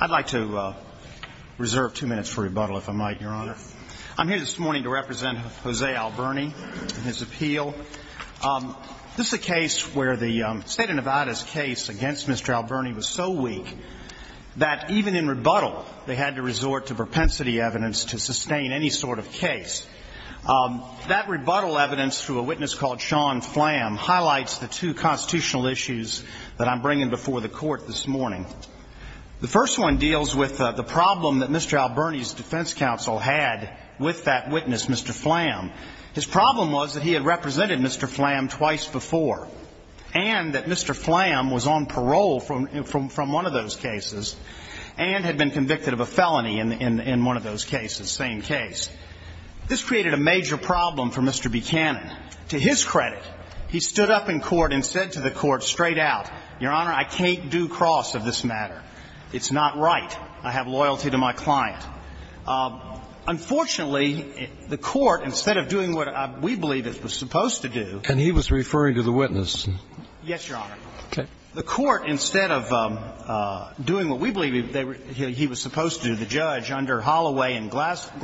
I'd like to reserve two minutes for rebuttal, if I might, Your Honor. I'm here this morning to represent Jose Alberni and his appeal. This is a case where the state of Nevada's case against Mr. Alberni was so weak that even in rebuttal, they had to resort to propensity evidence to sustain any sort of case. That rebuttal evidence, through a witness called Sean Flam, highlights the two constitutional issues that I'm bringing before the Court this morning. The first one deals with the problem that Mr. Alberni's defense counsel had with that witness, Mr. Flam. His problem was that he had represented Mr. Flam twice before, and that Mr. Flam was on parole from one of those cases, and had been convicted of a felony in one of those cases, same case. This created a major problem for Mr. Buchanan. To his credit, he stood up in court and said to the Court straight out, Your Honor, I can't do cross of this matter. It's not right. I have loyalty to my client. Unfortunately, the Court, instead of doing what we believe it was supposed to do And he was referring to the witness. Yes, Your Honor. Okay. The Court, instead of doing what we believe he was supposed to do, the judge, under Holloway and Glasser –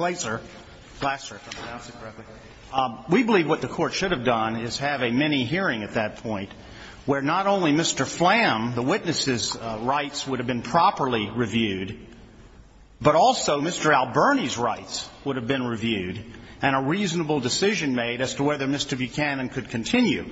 Glasser, if I'm pronouncing it correctly – we believe what the Court should have done is have a mini-hearing at that point where not only Mr. Flam, the witness's rights would have been properly reviewed, but also Mr. Alberni's rights would have been reviewed, and a reasonable decision made as to whether Mr. Buchanan could continue.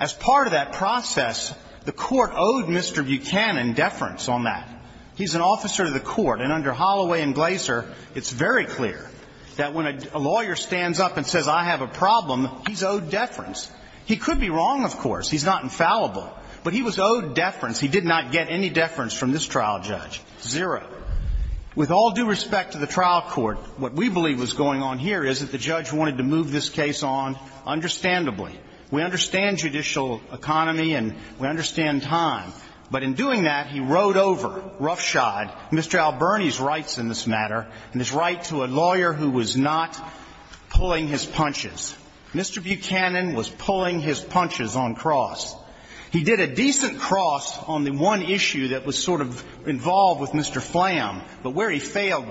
As part of that process, the Court owed Mr. Buchanan deference on that. He's an officer to the Court, and under Holloway and Glasser, it's very clear that when a lawyer stands up and says, I have a problem, he's owed deference. He could be wrong, of course. He's not infallible. But he was owed deference. He did not get any deference from this trial judge. Zero. With all due respect to the trial court, what we believe was going on here is that the judge wanted to move this case on understandably. We understand judicial economy and we understand time. But in doing that, he rode over, roughshod, Mr. Alberni's rights in this matter and his right to a lawyer who was not pulling his punches. Mr. Buchanan was pulling his punches on cross. He did a decent cross on the one issue that was sort of involved with Mr. Flam, but where he failed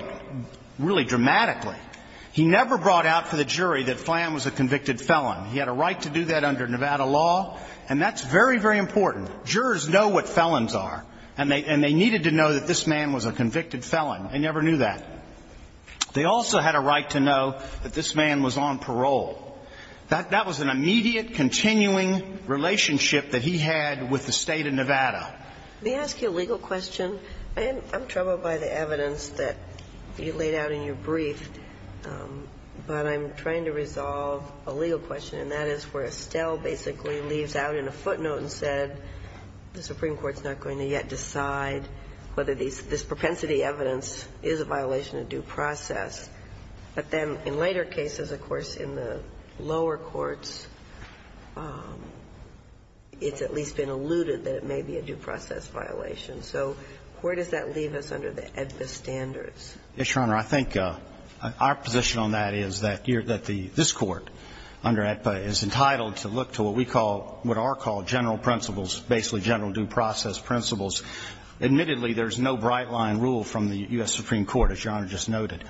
really dramatically. He never brought out for the jury that Flam was a convicted felon. He had a right to do that under Nevada law, and that's very, very important. Jurors know what felons are, and they needed to know that this man was a convicted felon. They never knew that. They also had a right to know that this man was on parole. That was an immediate, continuing relationship that he had with the State of Nevada. Let me ask you a legal question. I'm troubled by the evidence that you laid out in your brief, but I'm trying to resolve a legal question, and that is where Estelle basically leaves out in a footnote and said the Supreme Court's not going to yet decide whether this propensity evidence is a violation of due process. But then in later cases, of course, in the lower courts, it's at least been alluded that it may be a due process violation. So where does that leave us under the AEDPA standards? Yes, Your Honor. I think our position on that is that this Court under AEDPA is entitled to look to what we call, what are called general principles, basically general due process principles. Admittedly, there's no bright-line rule from the U.S. Supreme Court, as Your Honor just noted,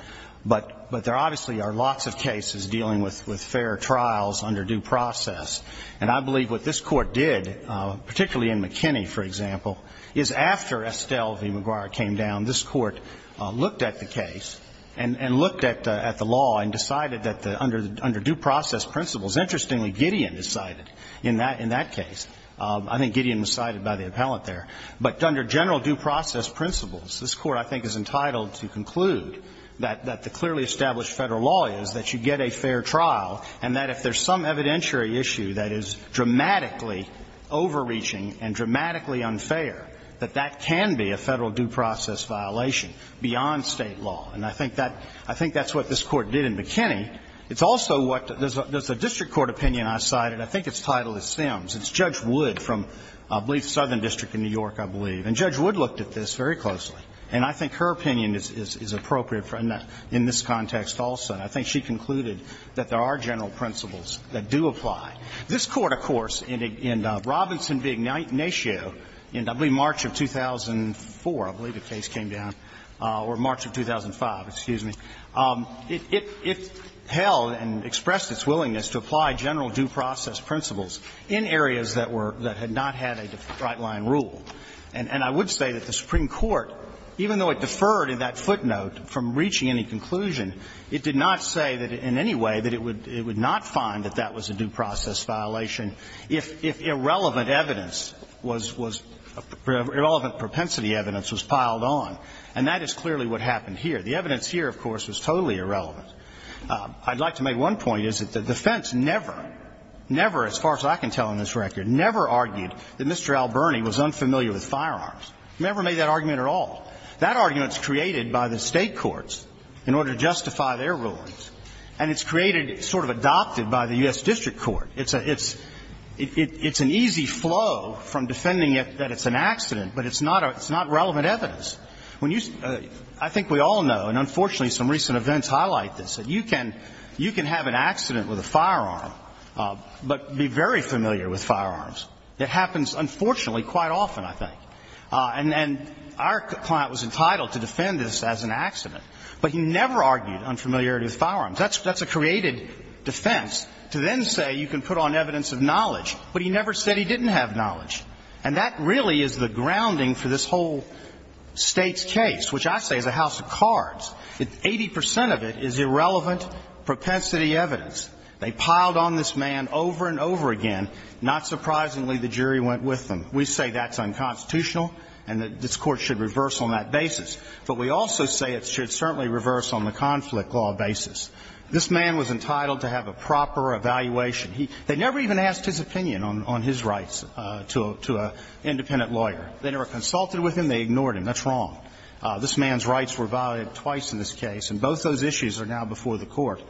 but there obviously are lots of cases dealing with fair trials under due process. And I believe what this Court did, particularly in McKinney, for example, is after Estelle v. McGuire came down, this Court looked at the case and looked at the law and decided that under due process principles, interestingly, Gideon is cited in that case. I think Gideon was cited by the appellant there. But under general due process principles, this Court, I think, is entitled to conclude that the clearly established Federal law is that you get a fair trial and that if there's some evidentiary issue that is dramatically overreaching and dramatically unfair, that that can be a Federal due process violation beyond State law. And I think that's what this Court did in McKinney. It's also what there's a district court opinion I cited. I think its title is Sims. It's Judge Wood from, I believe, Southern District in New York, I believe. And Judge Wood looked at this very closely. And I think her opinion is appropriate in this context also. And I think she concluded that there are general principles that do apply. This Court, of course, in Robinson v. Ignatius, in, I believe, March of 2004, I believe the case came down, or March of 2005, excuse me, it held and expressed its willingness to apply general due process principles in areas that were, that had not had a right-line rule. And I would say that the Supreme Court, even though it deferred in that footnote from reaching any conclusion, it did not say that in any way that it would not find that that was a due process violation if irrelevant evidence was, irrelevant propensity evidence was piled on. And that is clearly what happened here. The evidence here, of course, was totally irrelevant. I'd like to make one point, is that the defense never, never, as far as I can tell in this record, never argued that Mr. Alberni was unfamiliar with firearms. Never made that argument at all. That argument is created by the State courts in order to justify their rulings. And it's created, sort of adopted by the U.S. District Court. It's a, it's, it's an easy flow from defending it that it's an accident, but it's not, it's not relevant evidence. When you, I think we all know, and unfortunately some recent events highlight this, that you can, you can have an accident with a firearm, but be very familiar with firearms. It happens, unfortunately, quite often, I think. And, and our client was entitled to defend this as an accident. But he never argued unfamiliarity with firearms. That's, that's a created defense to then say you can put on evidence of knowledge. But he never said he didn't have knowledge. And that really is the grounding for this whole State's case, which I say is a house of cards. Eighty percent of it is irrelevant propensity evidence. They piled on this man over and over again. Not surprisingly, the jury went with them. We say that's unconstitutional and that this Court should reverse on that basis. But we also say it should certainly reverse on the conflict law basis. This man was entitled to have a proper evaluation. He, they never even asked his opinion on, on his rights to, to an independent lawyer. They never consulted with him. They ignored him. That's wrong. This man's rights were violated twice in this case. And both those issues are now before the Court.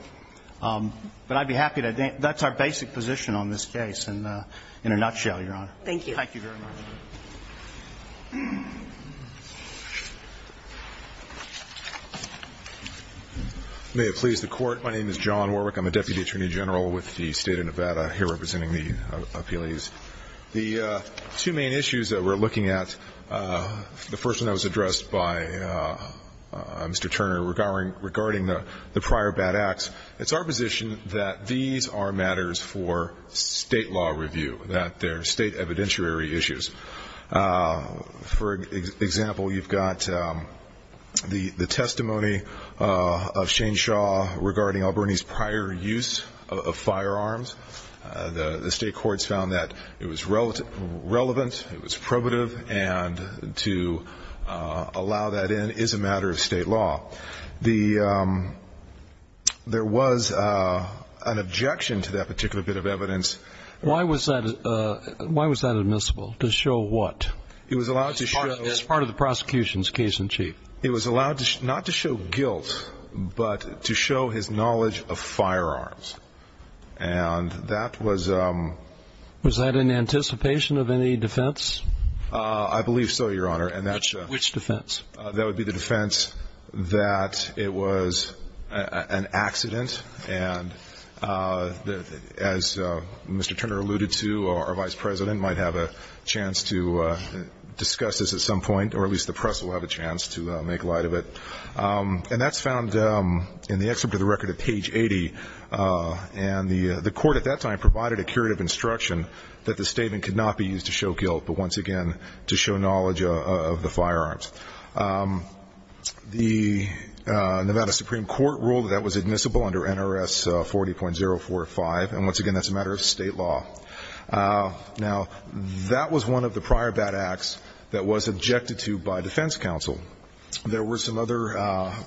But I'd be happy to, that's our basic position on this case in, in a nutshell, Your Honor. Thank you. Thank you very much. May it please the Court. My name is John Warwick. I'm a Deputy Attorney General with the State of Nevada, here representing the appellees. The two main issues that we're looking at, the first one that was addressed by Mr. Turner regarding, regarding the prior bad acts, it's our position that these are matters for state law review, that they're state evidentiary issues. For example, you've got the, the testimony of Shane Shaw regarding Albernie's prior use of firearms. The, the state courts found that it was relevant, it was probative, and to allow that in is a matter of state law. The, there was an objection to that particular bit of evidence. Why was that, why was that admissible? To show what? It was allowed to show. As part of the prosecution's case in chief. It was allowed to, not to show guilt, but to show his knowledge of firearms. And that was. Was that in anticipation of any defense? I believe so, Your Honor. And that's. Which defense? That would be the defense that it was an accident. And as Mr. Turner alluded to, our vice president might have a chance to discuss this at some point, or at least the press will have a chance to make light of it. And that's found in the excerpt of the record at page 80. And the, the court at that time provided a curative instruction that the statement could not be used to show guilt, but once again, to show knowledge of the firearms. The Nevada Supreme Court ruled that that was admissible under NRS 40.045. And once again, that's a matter of state law. Now, that was one of the prior bad acts that was objected to by defense counsel. There were some other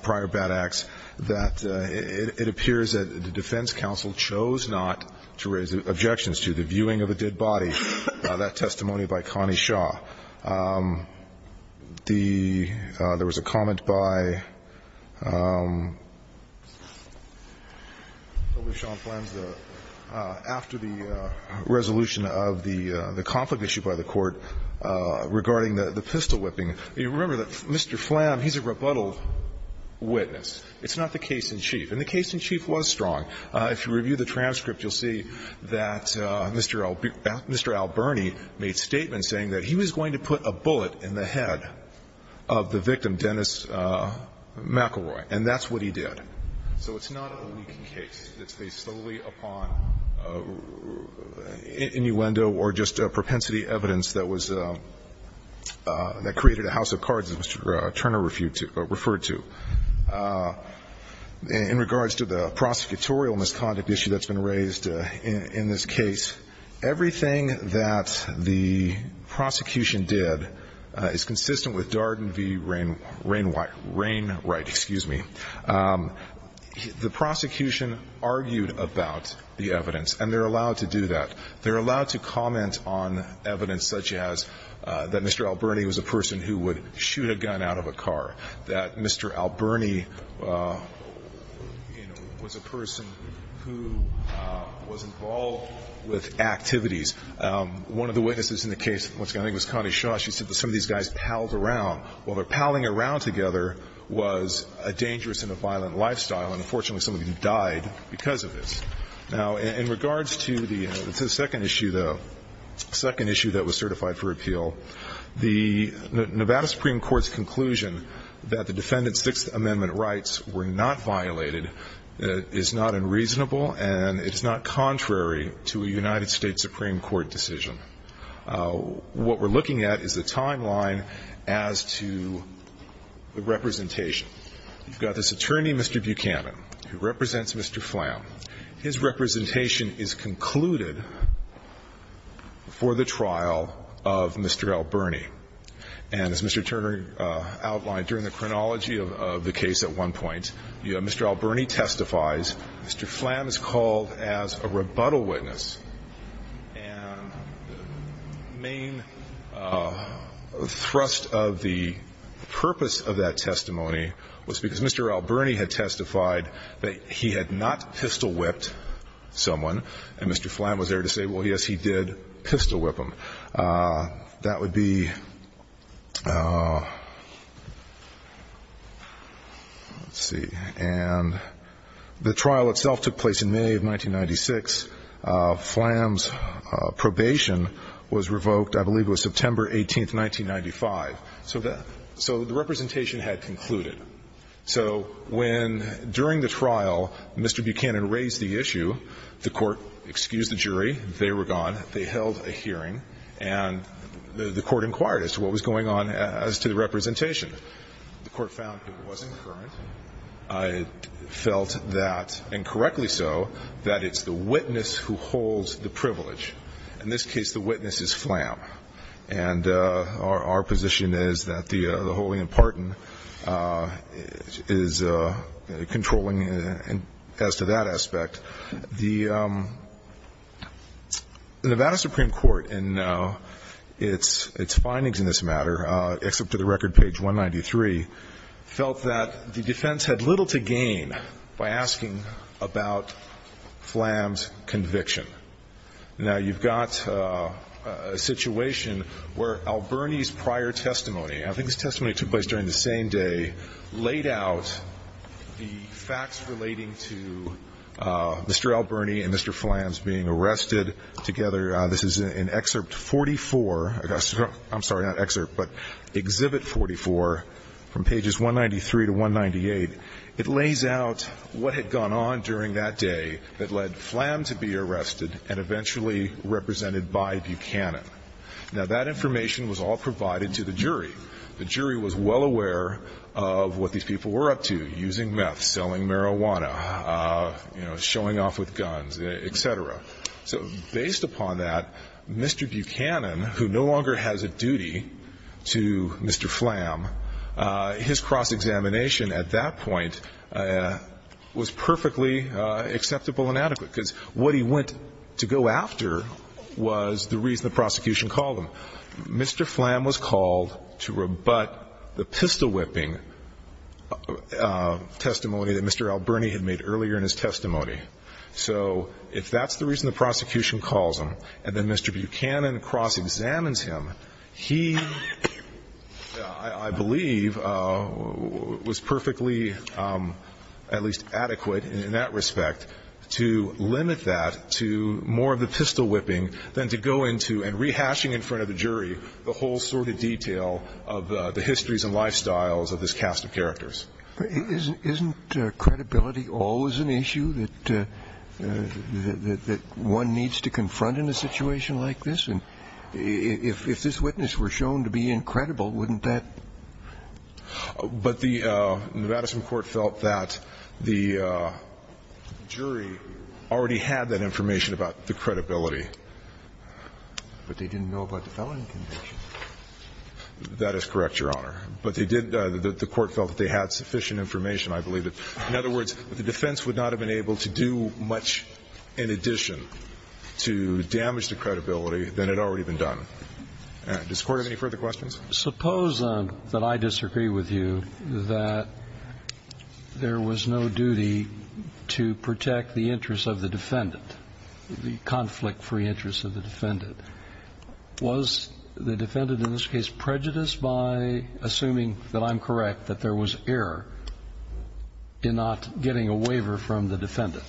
prior bad acts that it, it appears that the defense counsel chose not to raise objections to. The viewing of a dead body, that testimony by Connie Shaw. The, there was a comment by W. Sean Flam after the resolution of the, the conflict issue by the court regarding the, the pistol whipping. You remember that Mr. Flam, he's a rebuttal witness. It's not the case in chief. And the case in chief was strong. If you review the transcript, you'll see that Mr. Albarni made statements saying that he was going to put a bullet in the head of the victim, Dennis McElroy. And that's what he did. So it's not a leaking case. It's based solely upon innuendo or just propensity evidence that was, that created a house of cards, as Mr. Turner referred to. In regards to the prosecutorial misconduct issue that's been raised in this case, everything that the prosecution did is consistent with Darden v. Rain, Rain, Rainwright, excuse me. The prosecution argued about the evidence, and they're allowed to do that. They're allowed to comment on evidence such as that Mr. Albarni was a person who would shoot a gun out of a car, that Mr. Albarni, you know, was a person who was involved with activities. One of the witnesses in the case, I think it was Connie Shaw, she said that some of these guys palled around. Well, the palling around together was a dangerous and a violent lifestyle, and unfortunately some of them died because of this. Now, in regards to the second issue, though, second issue that was certified for appeal, the Nevada Supreme Court's conclusion that the defendant's Sixth Amendment rights were not violated is not unreasonable, and it's not contrary to a United States Supreme Court decision. What we're looking at is the timeline as to the representation. You've got this attorney, Mr. Buchanan, who represents Mr. Flam. His representation is concluded for the trial of Mr. Albarni. And as Mr. Turner outlined, during the chronology of the case at one point, Mr. Albarni testifies. Mr. Flam is called as a rebuttal witness. And the main thrust of the purpose of that testimony was because Mr. Albarni had testified that he had not pistol-whipped someone, and Mr. Flam was there to say, well, yes, he did pistol-whip him. That would be, let's see. And the trial itself took place in May of 1996. Flam's probation was revoked, I believe it was September 18, 1995. So the representation had concluded. So when, during the trial, Mr. Buchanan raised the issue, the court excused the jury, they were gone. They held a hearing. And the court inquired as to what was going on as to the representation. The court found it wasn't current. It felt that, and correctly so, that it's the witness who holds the privilege. In this case, the witness is Flam. And our position is that the holding in Parton is controlling as to that aspect. The Nevada Supreme Court in its findings in this matter, except to the record page 193, felt that the defense had little to gain by asking about Flam's conviction. Now, you've got a situation where Albarni's prior testimony, I think his testimony took place during the same day, laid out the facts relating to Mr. Albarni and Mr. Flam's being arrested together. This is in Excerpt 44. I'm sorry, not Excerpt, but Exhibit 44 from pages 193 to 198. It lays out what had gone on during that day that led Flam to be arrested and eventually represented by Buchanan. Now, that information was all provided to the jury. The jury was well aware of what these people were up to, using meth, selling marijuana, showing off with guns, et cetera. So based upon that, Mr. Buchanan, who no longer has a duty to Mr. Flam, his cross-examination at that point was perfectly acceptable and adequate because what he went to go after was the reason the prosecution called him. Mr. Flam was called to rebut the pistol-whipping testimony that Mr. Albarni had made earlier in his testimony. So if that's the reason the prosecution calls him and then Mr. Buchanan cross-examines him, he, I believe, was perfectly at least adequate in that respect to limit that to more of the pistol-whipping than to go into and rehashing in front of the jury the whole sort of detail of the histories and lifestyles of this cast of characters. Isn't credibility always an issue that one needs to confront in a situation like this? And if this witness were shown to be incredible, wouldn't that? But the Madison court felt that the jury already had that information about the credibility. But they didn't know about the felony conviction. That is correct, Your Honor. But they did – the court felt that they had sufficient information, I believe. In other words, if the defense would not have been able to do much in addition to damage the credibility, then it had already been done. Does the Court have any further questions? Suppose that I disagree with you that there was no duty to protect the interests of the defendant, the conflict-free interests of the defendant. Was the defendant in this case prejudiced by assuming that I'm correct that there was error in not getting a waiver from the defendant?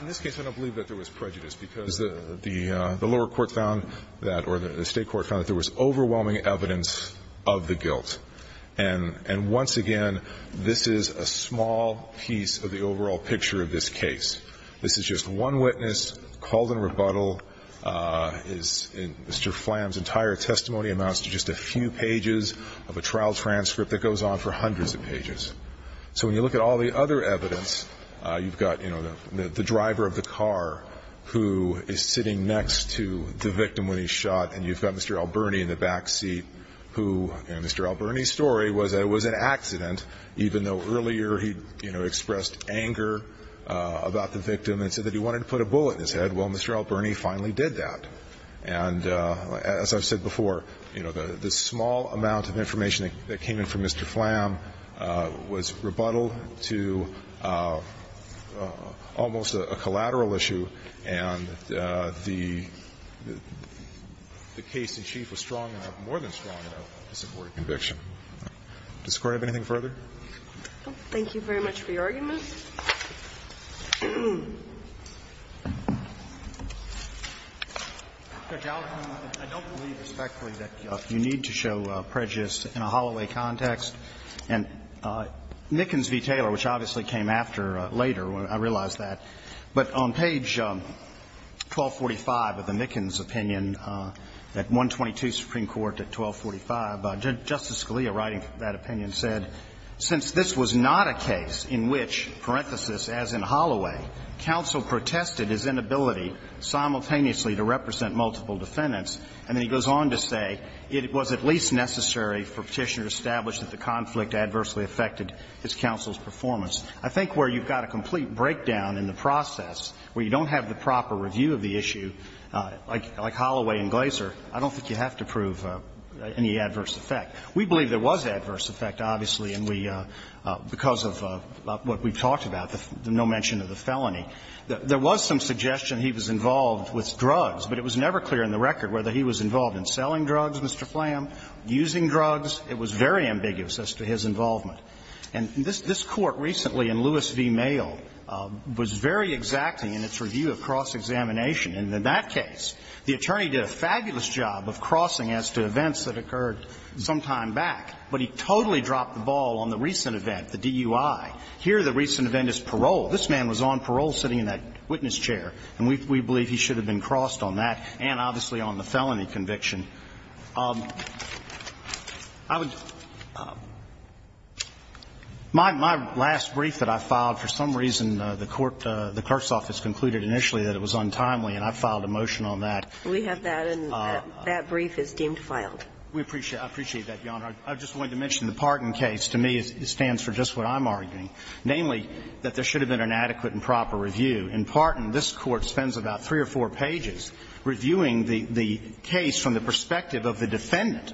In this case, I don't believe that there was prejudice because the lower court found that – or the state court found that there was overwhelming evidence of the guilt. And once again, this is a small piece of the overall picture of this case. This is just one witness called in rebuttal. Mr. Flamm's entire testimony amounts to just a few pages of a trial transcript that goes on for hundreds of pages. So when you look at all the other evidence, you've got, you know, the driver of the car who is sitting next to the victim when he's shot, and you've got Mr. Alberni in the backseat who, you know, Mr. Alberni's story was that it was an accident, even though earlier he, you know, expressed anger about the victim and said that he wanted to put a bullet in his head. Well, Mr. Alberni finally did that. And as I've said before, you know, the small amount of information that came in from Mr. Flamm was rebuttal to almost a collateral issue, and the case in chief was strong enough, more than strong enough, to support a conviction. Does the Court have anything further? Thank you very much for your argument. Judge Alito, I don't believe respectfully that you need to show prejudice in a Holloway And Mickens v. Taylor, which obviously came after later, I realize that. But on page 1245 of the Mickens opinion, at 122 Supreme Court, at 1245, Justice Scalia, writing that opinion, said, Since this was not a case in which, parenthesis, as in Holloway, counsel protested his inability simultaneously to represent multiple defendants. And then he goes on to say, It was at least necessary for Petitioner to establish that the conflict adversely affected his counsel's performance. I think where you've got a complete breakdown in the process, where you don't have the proper review of the issue, like Holloway and Glaser, I don't think you have to prove any adverse effect. We believe there was adverse effect, obviously, and we, because of what we've talked about, the no mention of the felony. There was some suggestion he was involved with drugs, but it was never clear in the record whether he was involved in selling drugs, Mr. Flam, using drugs. It was very ambiguous as to his involvement. And this Court recently in Lewis v. Mayo was very exacting in its review of cross-examination. And in that case, the attorney did a fabulous job of crossing as to events that occurred some time back, but he totally dropped the ball on the recent event, the DUI. Here, the recent event is parole. This man was on parole sitting in that witness chair, and we believe he should have been crossed on that and obviously on the felony conviction. I would – my last brief that I filed, for some reason, the court, the clerk's office concluded initially that it was untimely, and I filed a motion on that. We have that, and that brief is deemed filed. We appreciate that, Your Honor. I just wanted to mention the Parton case. To me, it stands for just what I'm arguing, namely, that there should have been an adequate and proper review. In Parton, this Court spends about three or four pages reviewing the case from the perspective of the defendant.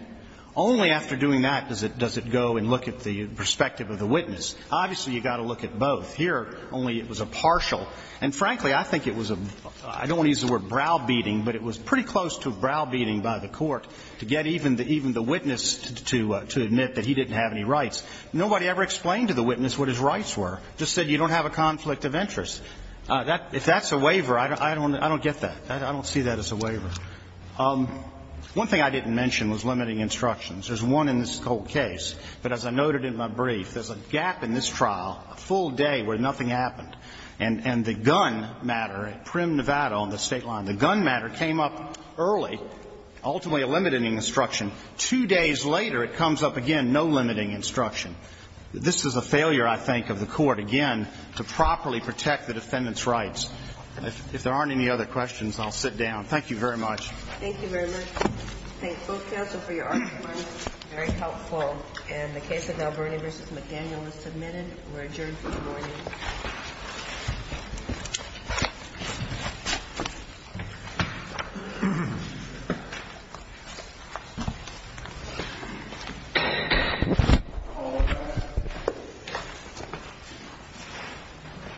Only after doing that does it go and look at the perspective of the witness. Obviously, you've got to look at both. Here, only it was a partial. And frankly, I think it was a – I don't want to use the word brow-beating, but it was pretty close to a brow-beating by the court to get even the witness to admit that he didn't have any rights. Nobody ever explained to the witness what his rights were. Just said you don't have a conflict of interest. If that's a waiver, I don't get that. I don't see that as a waiver. One thing I didn't mention was limiting instructions. There's one in this whole case. But as I noted in my brief, there's a gap in this trial, a full day where nothing happened, and the gun matter at Prim, Nevada, on the State line, the gun matter came up early, ultimately a limiting instruction. Two days later, it comes up again, no limiting instruction. This is a failure, I think, of the court, again, to properly protect the defendant's rights. If there aren't any other questions, I'll sit down. Thank you very much. Thank you very much. Thank both counsel for your arguments. Very helpful. And the case of Alberni v. McDaniel is submitted. We're adjourned for the morning. Thank you.